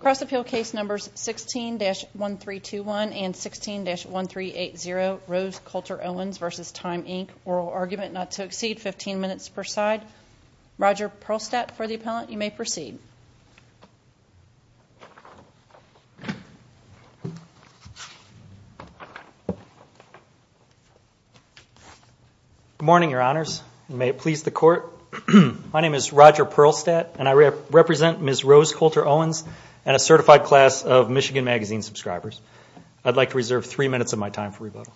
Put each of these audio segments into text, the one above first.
Cross-appeal case numbers 16-1321 and 16-1380, Rose Coulter-Owens v. Time Inc. Oral argument not to exceed 15 minutes per side. Roger Perlstadt for the appellant. You may proceed. Good morning, Your Honors. May it please the Court. My name is Roger Perlstadt, and I represent Ms. Rose Coulter-Owens and a certified class of Michigan Magazine subscribers. I'd like to reserve three minutes of my time for rebuttal.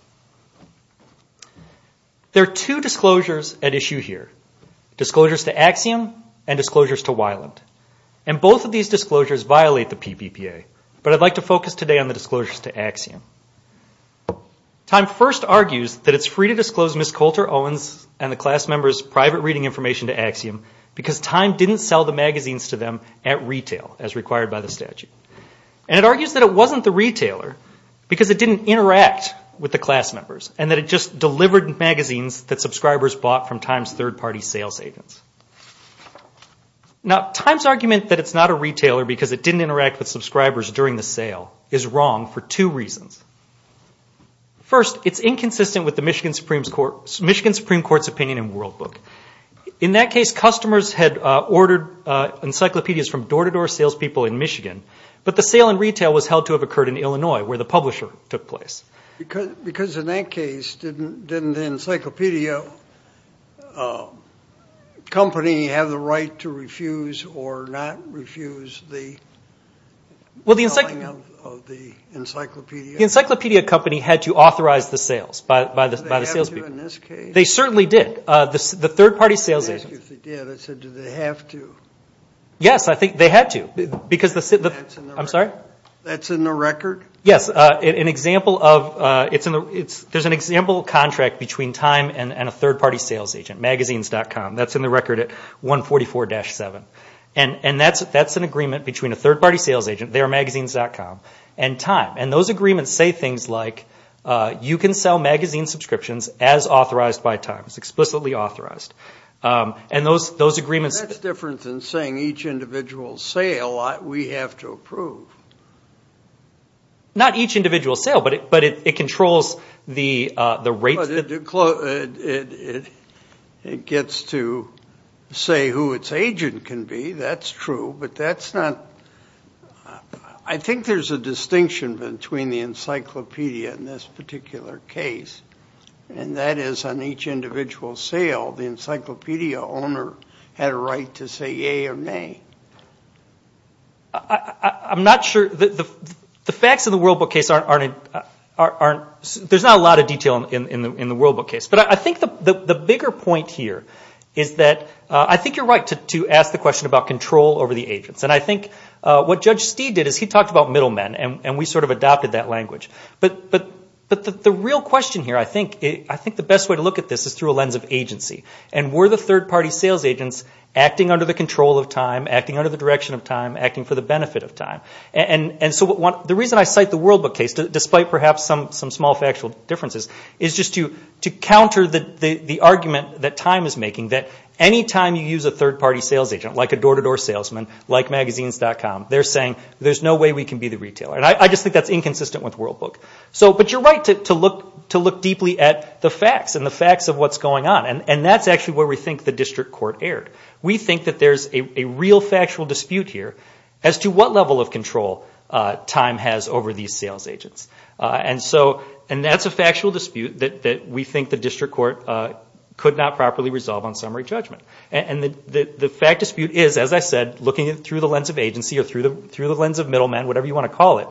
There are two disclosures at issue here, disclosures to Axiom and disclosures to Weiland. And both of these disclosures violate the PPPA, but I'd like to focus today on the disclosures to Axiom. Time first argues that it's free to disclose Ms. Coulter-Owens and the class members' private reading information to Axiom because Time didn't sell the magazines to them at retail, as required by the statute. And it argues that it wasn't the retailer because it didn't interact with the class members and that it just delivered magazines that subscribers bought from Time's third-party sales agents. Now, Time's argument that it's not a retailer because it didn't interact with subscribers during the sale is wrong for two reasons. First, it's inconsistent with the Michigan Supreme Court's opinion in World Book. In that case, customers had ordered encyclopedias from door-to-door salespeople in Michigan, but the sale in retail was held to have occurred in Illinois, where the publisher took place. Because in that case, didn't the encyclopedia company have the right to refuse or not refuse the selling of the encyclopedia? The encyclopedia company had to authorize the sales by the salespeople. Did they have to in this case? They certainly did. The third-party sales agents. I asked if they did. I said, did they have to? Yes, I think they had to. That's in the record? Yes. There's an example contract between Time and a third-party sales agent, Magazines.com. That's in the record at 144-7. That's an agreement between a third-party sales agent, their Magazines.com, and Time. Those agreements say things like, you can sell magazine subscriptions as authorized by Time. It's explicitly authorized. That's different than saying each individual sale we have to approve. Not each individual sale, but it controls the rates. It gets to say who its agent can be. That's true. I think there's a distinction between the encyclopedia in this particular case. That is, on each individual sale, the encyclopedia owner had a right to say yea or nay. I'm not sure. The facts in the World Book case, there's not a lot of detail in the World Book case. But I think the bigger point here is that I think you're right to ask the question about control over the agents. I think what Judge Steeve did is he talked about middlemen, and we sort of adopted that language. But the real question here, I think the best way to look at this is through a lens of agency. Were the third-party sales agents acting under the control of Time, acting under the direction of Time, acting for the benefit of Time? The reason I cite the World Book case, despite perhaps some small factual differences, is just to counter the argument that Time is making that any time you use a third-party sales agent, like a door-to-door salesman, like Magazines.com, they're saying, there's no way we can be the retailer. I just think that's inconsistent with the World Book. But you're right to look deeply at the facts and the facts of what's going on. And that's actually where we think the district court erred. We think that there's a real factual dispute here as to what level of control Time has over these sales agents. And that's a factual dispute that we think the district court could not properly resolve on summary judgment. And the fact dispute is, as I said, looking through the lens of agency or through the lens of middlemen, whatever you want to call it,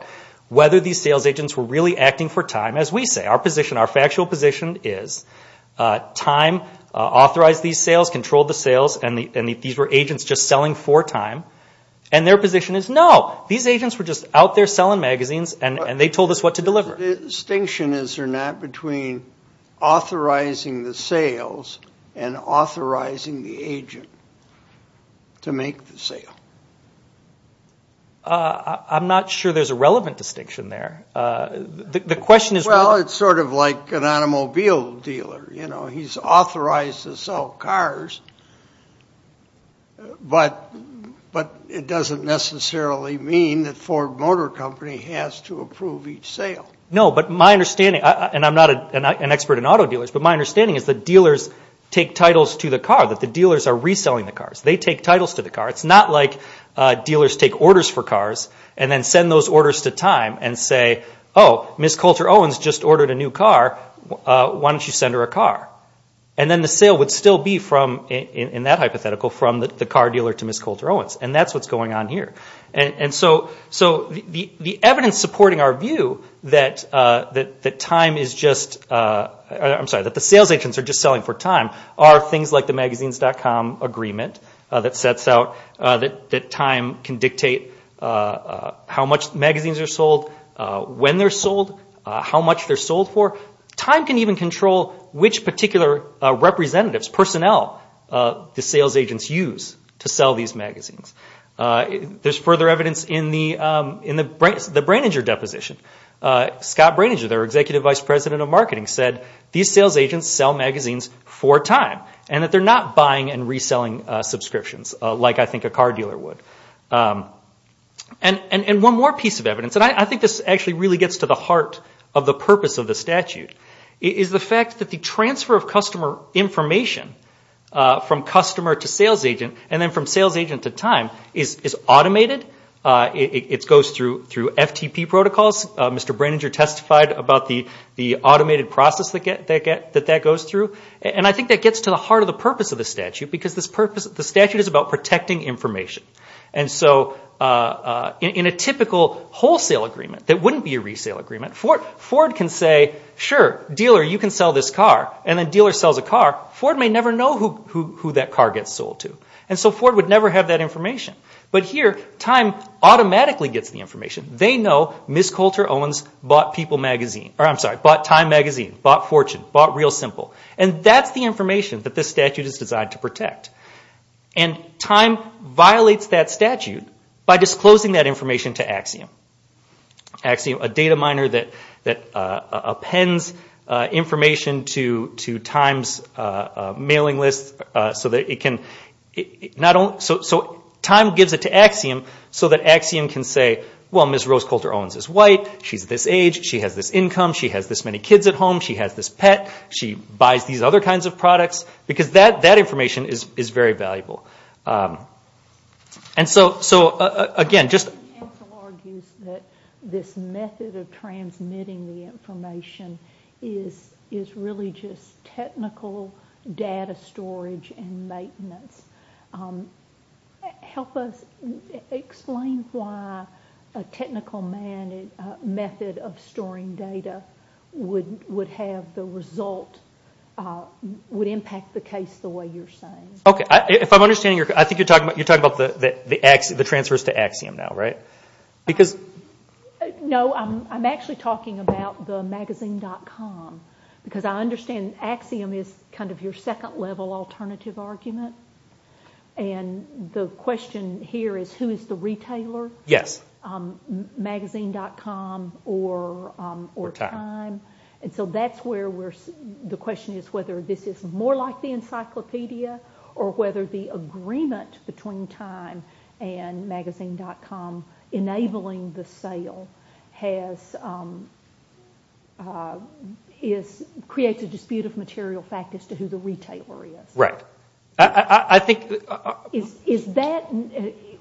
whether these sales agents were really acting for Time. As we say, our position, our factual position is Time authorized these sales, controlled the sales, and these were agents just selling for Time. And their position is, no, these agents were just out there selling magazines, and they told us what to deliver. The distinction, is there not, between authorizing the sales and authorizing the agent to make the sale? I'm not sure there's a relevant distinction there. The question is... Well, it's sort of like an automobile dealer. You know, he's authorized to sell cars, but it doesn't necessarily mean that Ford Motor Company has to approve each sale. No, but my understanding, and I'm not an expert in auto dealers, but my understanding is that dealers take titles to the car, that the dealers are reselling the cars. They take titles to the car. It's not like dealers take orders for cars and then send those orders to Time and say, Oh, Ms. Coulter-Owens just ordered a new car. Why don't you send her a car? And then the sale would still be from, in that hypothetical, from the car dealer to Ms. Coulter-Owens. And that's what's going on here. And so the evidence supporting our view that Time is just... I'm sorry, that the sales agents are just selling for Time are things like the Magazines.com agreement that sets out that time can dictate how much magazines are sold, when they're sold, how much they're sold for. Time can even control which particular representatives, personnel, the sales agents use to sell these magazines. There's further evidence in the Braininger deposition. Scott Braininger, their Executive Vice President of Marketing, said these sales agents sell magazines for time and that they're not buying and reselling subscriptions like I think a car dealer would. And one more piece of evidence, and I think this actually really gets to the heart of the purpose of the statute, is the fact that the transfer of customer information from customer to sales agent and then from sales agent to Time is automated. It goes through FTP protocols. Mr. Braininger testified about the automated process that that goes through. And I think that gets to the heart of the purpose of the statute, because the statute is about protecting information. And so in a typical wholesale agreement, that wouldn't be a resale agreement, Ford can say, sure, dealer, you can sell this car, and the dealer sells a car. Ford may never know who that car gets sold to. And so Ford would never have that information. But here, Time automatically gets the information. They know Ms. Coulter-Owens bought Time Magazine, bought Fortune, bought Real Simple. And that's the information that this statute is designed to protect. And Time violates that statute by disclosing that information to Axiom, a data miner that appends information to Time's mailing list so that it can, so Time gives it to Axiom so that Axiom can say, well, Ms. Rose Coulter-Owens is white. She's this age. She has this income. She has this many kids at home. She has this pet. She buys these other kinds of products, because that information is very valuable. And so, again, just- Help us explain why a technical method of storing data would have the result, would impact the case the way you're saying. Okay. If I'm understanding, I think you're talking about the transfers to Axiom now, right? Because- No, I'm actually talking about the magazine.com, because I understand Axiom is kind of your second-level alternative argument. And the question here is, who is the retailer? Yes. Magazine.com or Time. And so that's where the question is whether this is more like the encyclopedia or whether the agreement between Time and magazine.com enabling the sale creates a dispute of material fact as to who the retailer is. Right. I think- Is that-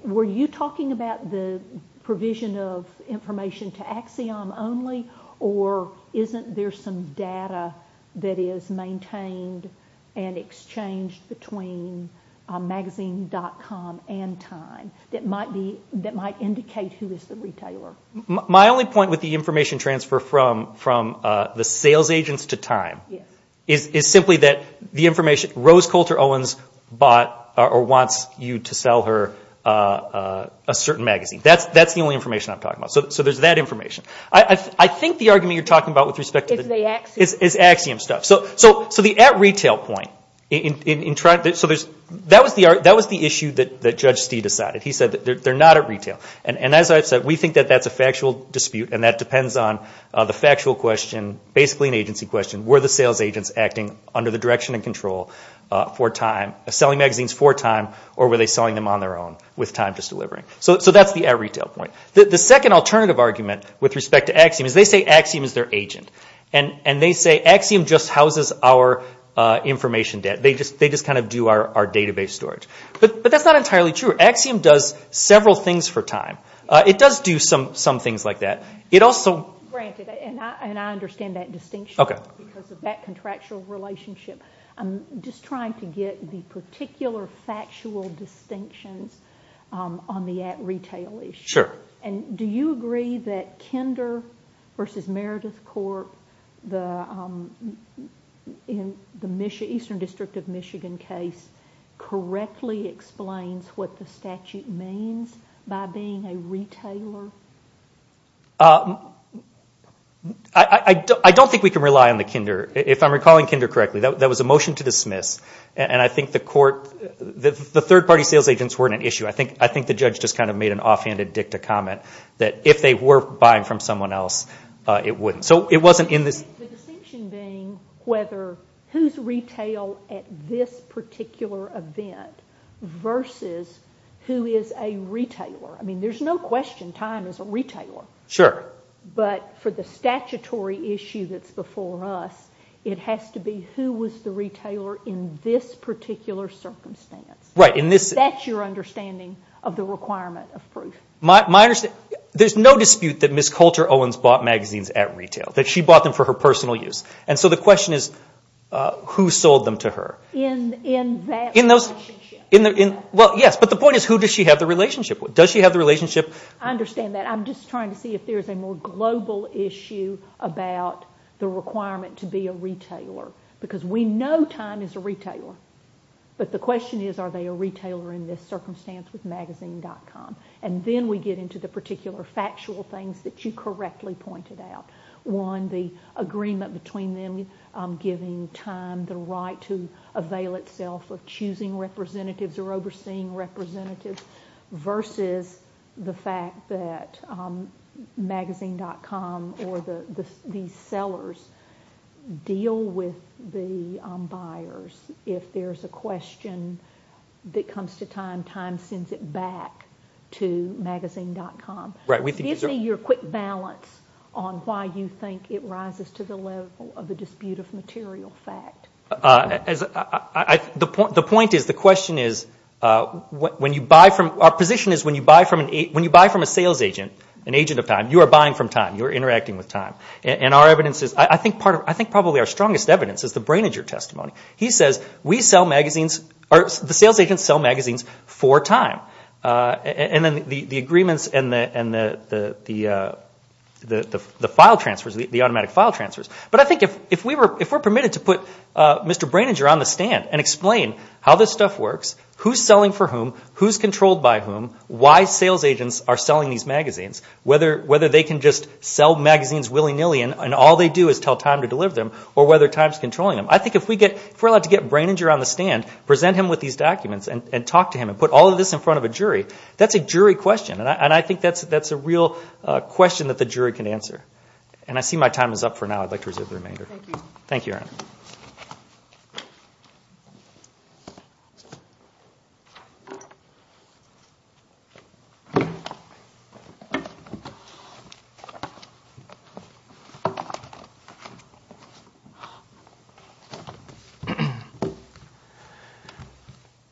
Were you talking about the provision of information to Axiom only, or isn't there some data that is maintained and exchanged between magazine.com and Time that might indicate who is the retailer? My only point with the information transfer from the sales agents to Time is simply that the information- Rose Coulter Owens bought or wants you to sell her a certain magazine. That's the only information I'm talking about. So there's that information. I think the argument you're talking about with respect to- Is the Axiom. Is Axiom stuff. So the at retail point, that was the issue that Judge Stee decided. He said that they're not at retail. And as I've said, we think that that's a factual dispute, and that depends on the factual question, basically an agency question. Were the sales agents acting under the direction and control for Time, selling magazines for Time, or were they selling them on their own with Time just delivering? So that's the at retail point. The second alternative argument with respect to Axiom is they say Axiom is their agent. And they say Axiom just houses our information debt. They just kind of do our database storage. But that's not entirely true. Axiom does several things for Time. It does do some things like that. It also- Granted, and I understand that distinction because of that contractual relationship. I'm just trying to get the particular factual distinctions on the at retail issue. Sure. And do you agree that Kinder v. Meredith Corp., the Eastern District of Michigan case, correctly explains what the statute means by being a retailer? I don't think we can rely on the Kinder. If I'm recalling Kinder correctly, that was a motion to dismiss. And I think the court-the third-party sales agents weren't an issue. I think the judge just kind of made an offhanded dicta comment that if they were buying from someone else, it wouldn't. So it wasn't in this- The distinction being whether who's retail at this particular event versus who is a retailer. I mean, there's no question Time is a retailer. Sure. But for the statutory issue that's before us, it has to be who was the retailer in this particular circumstance. Right. That's your understanding of the requirement of proof. There's no dispute that Ms. Coulter Owens bought magazines at retail, that she bought them for her personal use. And so the question is, who sold them to her? In that relationship. Well, yes. But the point is, who does she have the relationship with? Does she have the relationship? I understand that. I'm just trying to see if there's a more global issue about the requirement to be a retailer. Because we know Time is a retailer. But the question is, are they a retailer in this circumstance with magazine.com? And then we get into the particular factual things that you correctly pointed out. One, the agreement between them giving Time the right to avail itself of choosing representatives or overseeing representatives versus the fact that magazine.com or these sellers deal with the buyers if there's a question that comes to Time, Time sends it back to magazine.com. Right. Give me your quick balance on why you think it rises to the level of a dispute of material fact. The point is, the question is, when you buy from, our position is when you buy from a sales agent, an agent of Time, you are buying from Time. You are interacting with Time. And our evidence is, I think probably our strongest evidence is the Braininger testimony. He says, the sales agents sell magazines for Time. And then the agreements and the automatic file transfers. But I think if we're permitted to put Mr. Braininger on the stand and explain how this stuff works, who's selling for whom, who's controlled by whom, why sales agents are selling these magazines, whether they can just sell magazines willy-nilly and all they do is tell Time to deliver them, or whether Time's controlling them. I think if we're allowed to get Braininger on the stand, present him with these documents, and talk to him, and put all of this in front of a jury, that's a jury question. And I think that's a real question that the jury can answer. And I see my time is up for now. I'd like to reserve the remainder. Thank you. Thank you, Erin.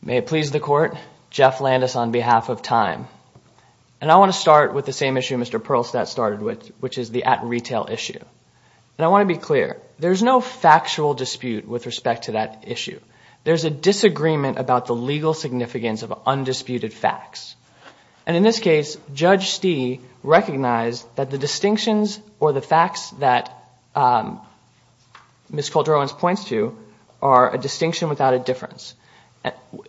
May it please the Court. Jeff Landis on behalf of Time. And I want to start with the same issue Mr. Perlstadt started with, which is the at-retail issue. And I want to be clear. There's no factual dispute with respect to that issue. There's a disagreement about the legal significance of undisputed facts. And in this case, Judge Stee recognized that the distinctions or the facts that Ms. Calderon points to are a distinction without a difference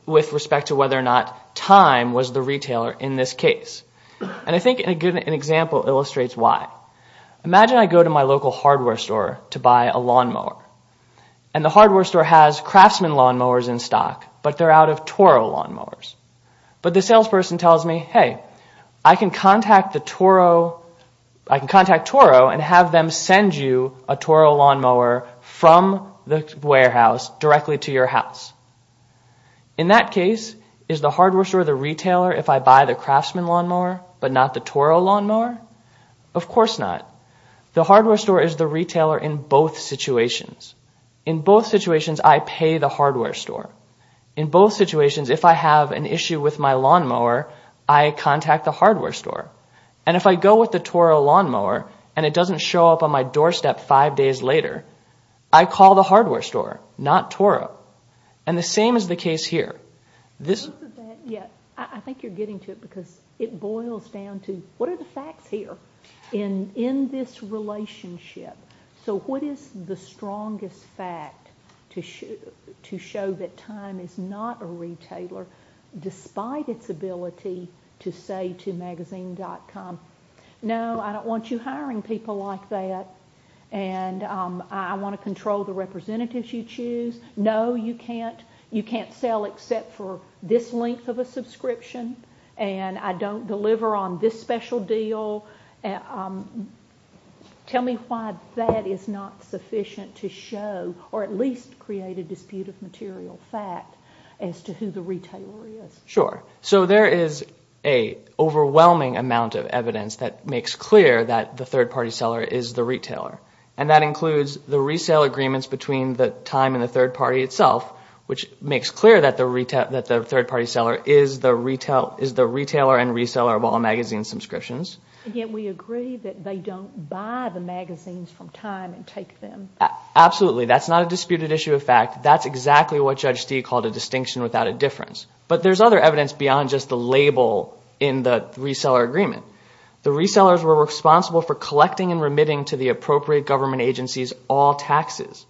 with respect to whether or not Time was the retailer in this case. And I think an example illustrates why. Imagine I go to my local hardware store to buy a lawnmower. And the hardware store has Craftsman lawnmowers in stock, but they're out of Toro lawnmowers. But the salesperson tells me, hey, I can contact Toro and have them send you a Toro lawnmower from the warehouse directly to your house. In that case, is the hardware store the retailer if I buy the Craftsman lawnmower but not the Toro lawnmower? Of course not. The hardware store is the retailer in both situations. In both situations, I pay the hardware store. In both situations, if I have an issue with my lawnmower, I contact the hardware store. And if I go with the Toro lawnmower and it doesn't show up on my doorstep five days later, I call the hardware store, not Toro. And the same is the case here. I think you're getting to it because it boils down to what are the facts here in this relationship? So what is the strongest fact to show that time is not a retailer, despite its ability to say to magazine.com, no, I don't want you hiring people like that, and I want to control the representatives you choose. No, you can't sell except for this length of a subscription, and I don't deliver on this special deal. Tell me why that is not sufficient to show or at least create a dispute of material fact as to who the retailer is. Sure. So there is an overwhelming amount of evidence that makes clear that the third-party seller is the retailer, and that includes the resale agreements between the time and the third party itself, which makes clear that the third-party seller is the retailer and reseller of all magazine subscriptions. Yet we agree that they don't buy the magazines from time and take them. Absolutely. That's not a disputed issue of fact. That's exactly what Judge Stee called a distinction without a difference. But there's other evidence beyond just the label in the reseller agreement. The resellers were responsible for collecting and remitting to the appropriate government agencies all taxes.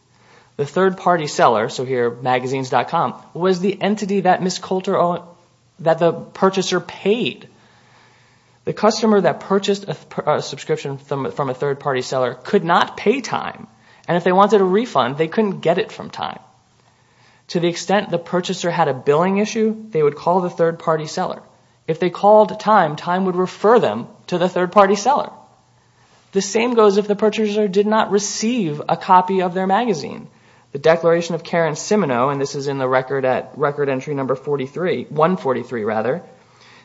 The third-party seller, so here magazines.com, was the entity that the purchaser paid. The customer that purchased a subscription from a third-party seller could not pay time, and if they wanted a refund, they couldn't get it from time. To the extent the purchaser had a billing issue, they would call the third-party seller. If they called time, time would refer them to the third-party seller. The same goes if the purchaser did not receive a copy of their magazine. The Declaration of Karen Siminoe, and this is in the record at record entry number 143,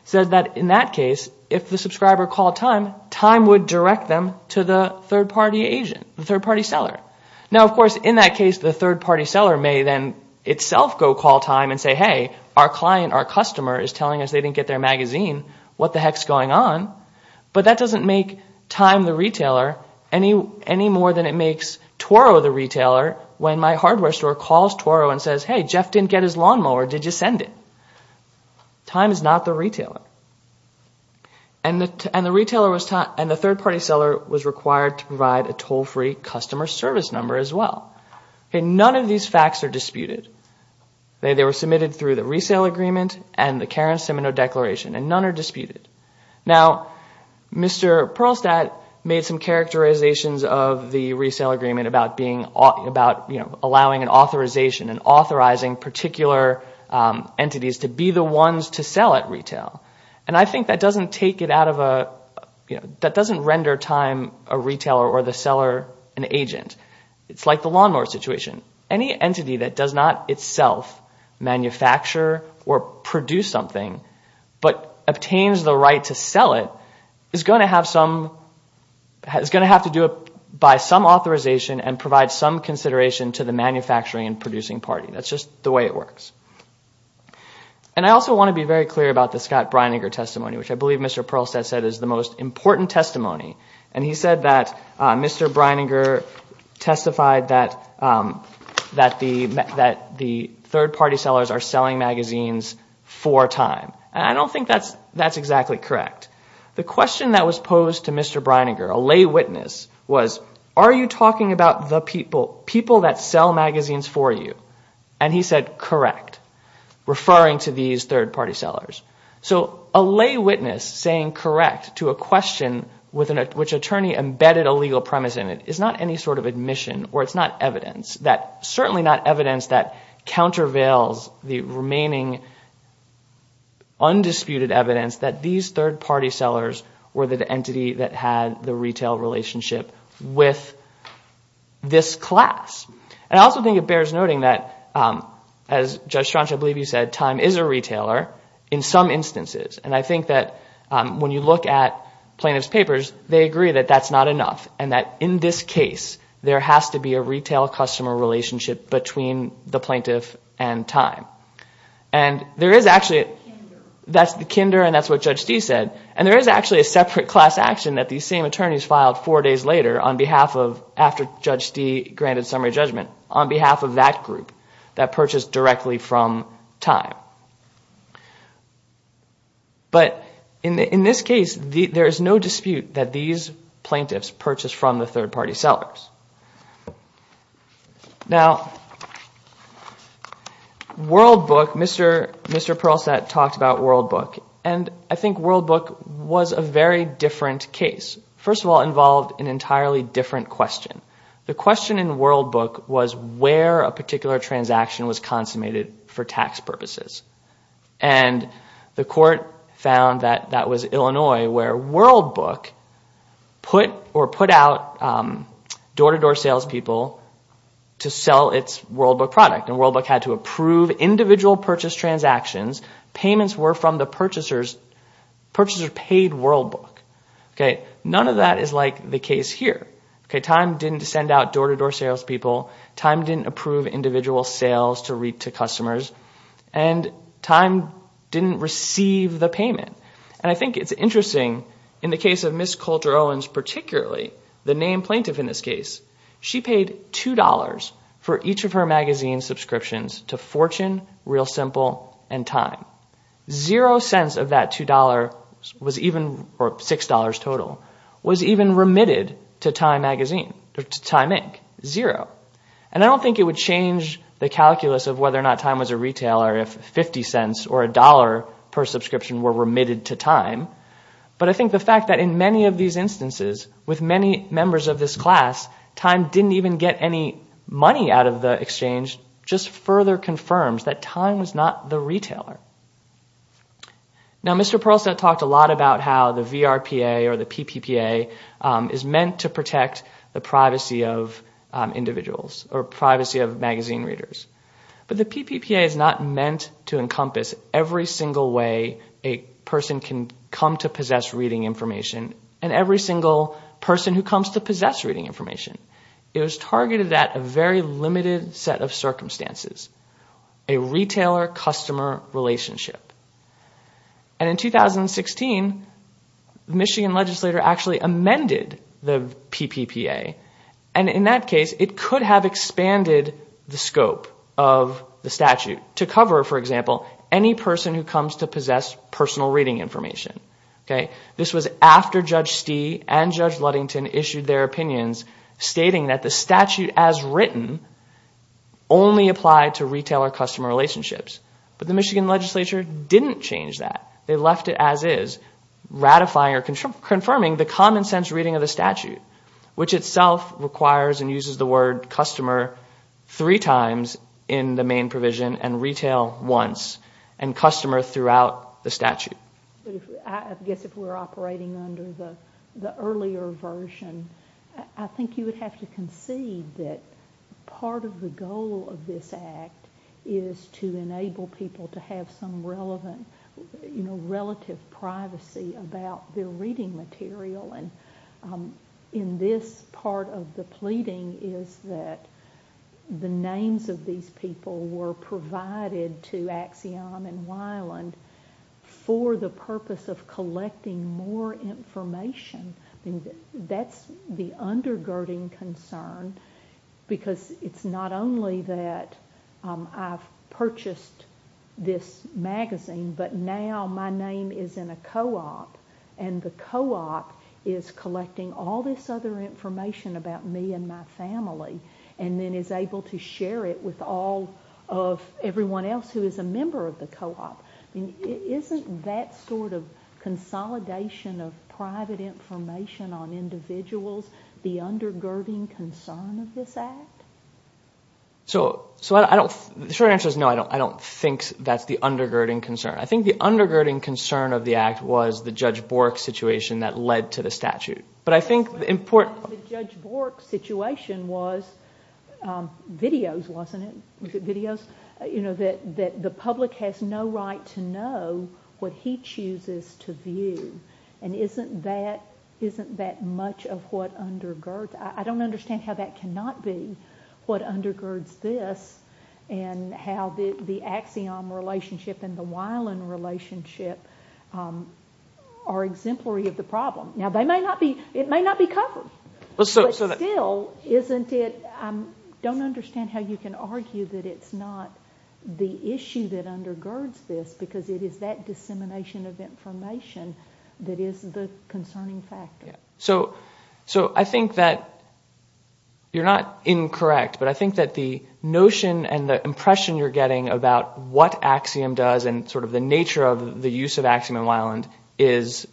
says that in that case, if the subscriber called time, time would direct them to the third-party agent, the third-party seller. Now, of course, in that case, the third-party seller may then itself go call time and say, hey, our client, our customer, is telling us they didn't get their magazine. What the heck's going on? But that doesn't make time the retailer any more than it makes Toro the retailer when my hardware store calls Toro and says, hey, Jeff didn't get his lawnmower, did you send it? Time is not the retailer. And the third-party seller was required to provide a toll-free customer service number as well. None of these facts are disputed. They were submitted through the resale agreement and the Karen Siminoe Declaration, and none are disputed. Now, Mr. Perlstadt made some characterizations of the resale agreement about allowing an authorization and authorizing particular entities to be the ones to sell at retail, and I think that doesn't render time a retailer or the seller an agent. It's like the lawnmower situation. Any entity that does not itself manufacture or produce something but obtains the right to sell it is going to have to do it by some authorization and provide some consideration to the manufacturing and producing party. That's just the way it works. And I also want to be very clear about the Scott Brininger testimony, which I believe Mr. Perlstadt said is the most important testimony, and he said that Mr. Brininger testified that the third-party sellers are selling magazines for time, and I don't think that's exactly correct. The question that was posed to Mr. Brininger, a lay witness, was, are you talking about the people that sell magazines for you? And he said, correct, referring to these third-party sellers. So a lay witness saying correct to a question which an attorney embedded a legal premise in it is not any sort of admission or it's not evidence, certainly not evidence that countervails the remaining undisputed evidence that these third-party sellers were the entity that had the retail relationship with this class. And I also think it bears noting that, as Judge Schranch, I believe you said, time is a retailer in some instances, and I think that when you look at plaintiff's papers, they agree that that's not enough and that, in this case, there has to be a retail customer relationship between the plaintiff and time. And there is actually, that's the kinder and that's what Judge Dee said, and there is actually a separate class action that these same attorneys filed four days later on behalf of, after Judge Dee granted summary judgment, on behalf of that group that purchased directly from time. But in this case, there is no dispute that these plaintiffs purchased from the third-party sellers. Now, World Book, Mr. Perlstadt talked about World Book, and I think World Book was a very different case. First of all, it involved an entirely different question. The question in World Book was where a particular transaction was consummated for tax purposes. And the court found that that was Illinois, where World Book put out door-to-door salespeople to sell its World Book product. And World Book had to approve individual purchase transactions. Payments were from the purchasers. Purchasers paid World Book. None of that is like the case here. Time didn't send out door-to-door salespeople. Time didn't approve individual sales to customers. And time didn't receive the payment. And I think it's interesting, in the case of Ms. Coulter-Owens particularly, the named plaintiff in this case, she paid $2 for each of her magazine subscriptions to Fortune, Real Simple, and Time. Zero cents of that $2 was even, or $6 total, was even remitted to Time magazine, to Time Inc. Zero. And I don't think it would change the calculus of whether or not Time was a retailer if 50 cents or $1 per subscription were remitted to Time. But I think the fact that in many of these instances, with many members of this class, Time didn't even get any money out of the exchange just further confirms that Time was not the retailer. Now, Mr. Perlstadt talked a lot about how the VRPA or the PPPA is meant to protect the privacy of individuals or privacy of magazine readers. But the PPPA is not meant to encompass every single way a person can come to possess reading information and every single person who comes to possess reading information. It was targeted at a very limited set of circumstances, a retailer-customer relationship. And in 2016, the Michigan Legislature actually amended the PPPA. And in that case, it could have expanded the scope of the statute to cover, for example, any person who comes to possess personal reading information. This was after Judge Stee and Judge Ludington issued their opinions stating that the statute as written only applied to retailer-customer relationships. But the Michigan Legislature didn't change that. They left it as is, ratifying or confirming the common sense reading of the statute, which itself requires and uses the word customer three times in the main provision and retail once, and customer throughout the statute. I guess if we're operating under the earlier version, I think you would have to concede that part of the goal of this act is to enable people to have some relevant relative privacy about their reading material. And in this part of the pleading is that the names of these people were provided to Axiom and Weiland for the purpose of collecting more information. That's the undergirding concern, because it's not only that I've purchased this magazine, but now my name is in a co-op, and the co-op is collecting all this other information about me and my family and then is able to share it with all of everyone else who is a member of the co-op. Isn't that sort of consolidation of private information on individuals the undergirding concern of this act? So the short answer is no, I don't think that's the undergirding concern. I think the undergirding concern of the act was the Judge Bork situation that led to the statute. But I think the important— The Judge Bork situation was videos, wasn't it? You know, that the public has no right to know what he chooses to view. And isn't that much of what undergirds— I don't understand how that cannot be what undergirds this and how the Axiom relationship and the Weiland relationship are exemplary of the problem. Now, it may not be covered. But still, isn't it—I don't understand how you can argue that it's not the issue that undergirds this because it is that dissemination of information that is the concerning factor. So I think that you're not incorrect, but I think that the notion and the impression you're getting about what Axiom does and sort of the nature of the use of Axiom and Weiland is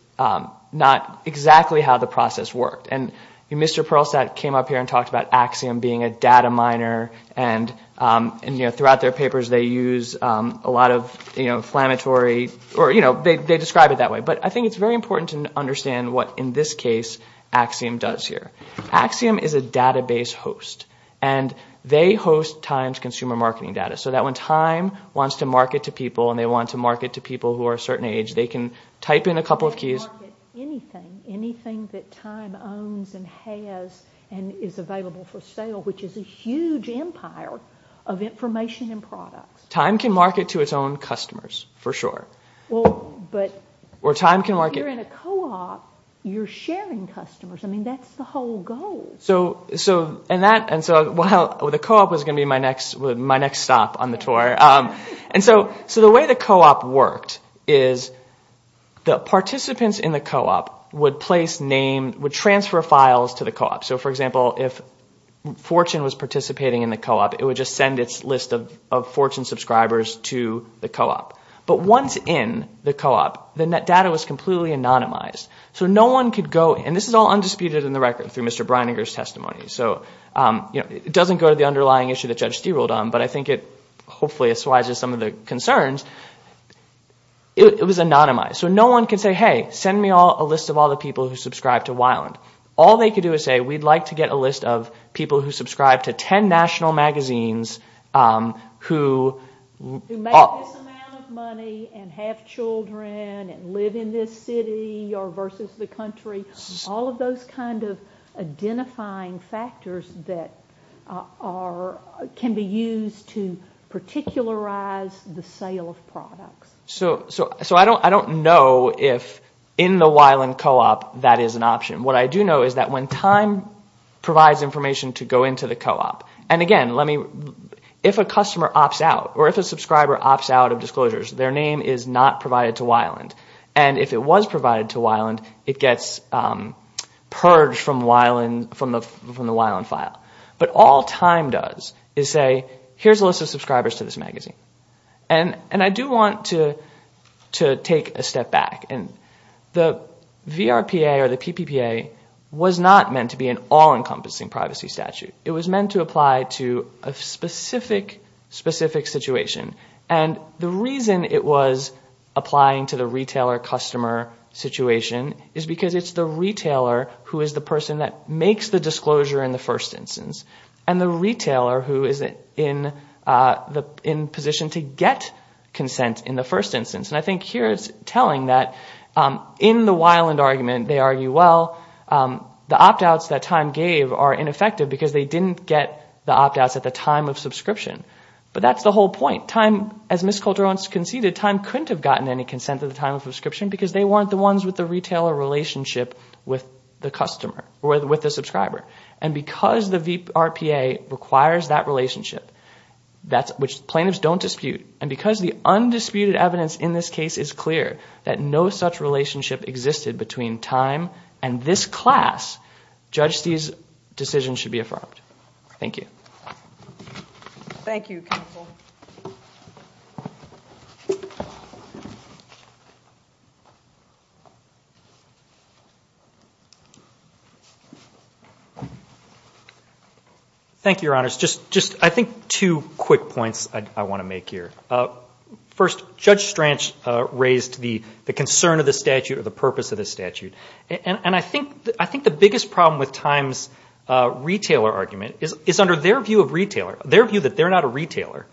not exactly how the process worked. And Mr. Perlstadt came up here and talked about Axiom being a data miner. And, you know, throughout their papers, they use a lot of, you know, inflammatory— or, you know, they describe it that way. But I think it's very important to understand what, in this case, Axiom does here. Axiom is a database host. And they host Time's consumer marketing data so that when Time wants to market to people and they want to market to people who are a certain age, they can type in a couple of keys— They can market anything, anything that Time owns and has and is available for sale, which is a huge empire of information and products. Time can market to its own customers, for sure. Well, but— Or Time can market— If you're in a co-op, you're sharing customers. I mean, that's the whole goal. So in that—and so the co-op was going to be my next stop on the tour. And so the way the co-op worked is the participants in the co-op would place names—would transfer files to the co-op. So, for example, if Fortune was participating in the co-op, it would just send its list of Fortune subscribers to the co-op. But once in the co-op, the data was completely anonymized. So no one could go—and this is all undisputed in the record through Mr. Brininger's testimony. So it doesn't go to the underlying issue that Judge Steele ruled on, but I think it hopefully assuages some of the concerns. It was anonymized. So no one could say, hey, send me a list of all the people who subscribe to Wyland. All they could do is say, we'd like to get a list of people who subscribe to 10 national magazines who— Who make this amount of money and have children and live in this city or versus the country. All of those kind of identifying factors that are—can be used to particularize the sale of products. So I don't know if in the Wyland co-op that is an option. What I do know is that when time provides information to go into the co-op, and again, let me— If a customer opts out or if a subscriber opts out of disclosures, their name is not provided to Wyland. And if it was provided to Wyland, it gets purged from the Wyland file. But all time does is say, here's a list of subscribers to this magazine. And I do want to take a step back. The VRPA or the PPPA was not meant to be an all-encompassing privacy statute. It was meant to apply to a specific, specific situation. And the reason it was applying to the retailer-customer situation is because it's the retailer who is the person that makes the disclosure in the first instance. And the retailer who is in position to get consent in the first instance. And I think here it's telling that in the Wyland argument, they argue, well, the opt-outs that time gave are ineffective because they didn't get the opt-outs at the time of subscription. But that's the whole point. Time, as Ms. Coulter-Owens conceded, time couldn't have gotten any consent at the time of subscription because they weren't the ones with the retailer relationship with the customer or with the subscriber. And because the VRPA requires that relationship, which plaintiffs don't dispute, and because the undisputed evidence in this case is clear that no such relationship existed between time and this class, Judge Stee's decision should be affirmed. Thank you. Thank you, counsel. Thank you, Your Honors. Just, I think, two quick points I want to make here. First, Judge Stranch raised the concern of the statute or the purpose of the statute. And I think the biggest problem with Time's retailer argument is under their view of retailer, their view that they're not a retailer,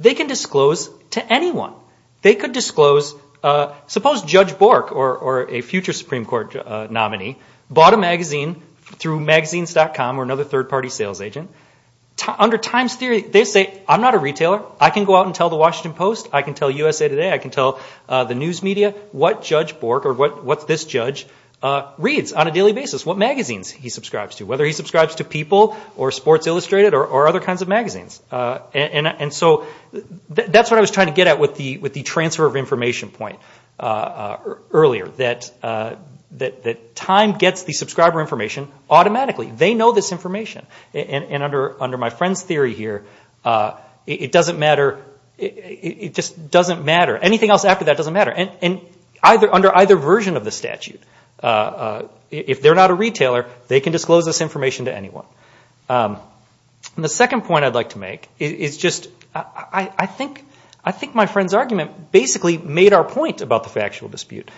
they can disclose to anyone. They could disclose, suppose Judge Bork or a future Supreme Court nominee bought a magazine through Magazines.com or another third-party sales agent. Under Time's theory, they say, I'm not a retailer. I can go out and tell the Washington Post. I can tell USA Today. I can tell the news media what Judge Bork or what this judge reads on a daily basis, what magazines he subscribes to, whether he subscribes to People or Sports Illustrated or other kinds of magazines. And so that's what I was trying to get at with the transfer of information point earlier, that time gets the subscriber information automatically. They know this information. And under my friend's theory here, it doesn't matter. It just doesn't matter. Anything else after that doesn't matter. And under either version of the statute, if they're not a retailer, they can disclose this information to anyone. And the second point I'd like to make is just I think my friend's argument basically made our point about the factual dispute.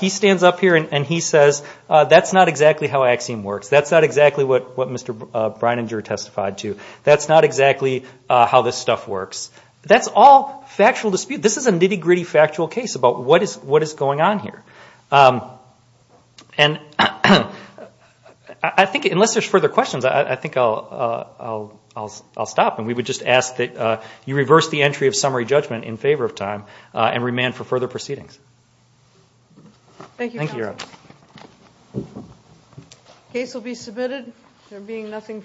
He stands up here and he says, that's not exactly how Axiom works. That's not exactly what Mr. Brininger testified to. That's not exactly how this stuff works. That's all factual dispute. This is a nitty-gritty factual case about what is going on here. And I think unless there's further questions, I think I'll stop. And we would just ask that you reverse the entry of summary judgment in favor of time and remand for further proceedings. Thank you. Case will be submitted. There being nothing.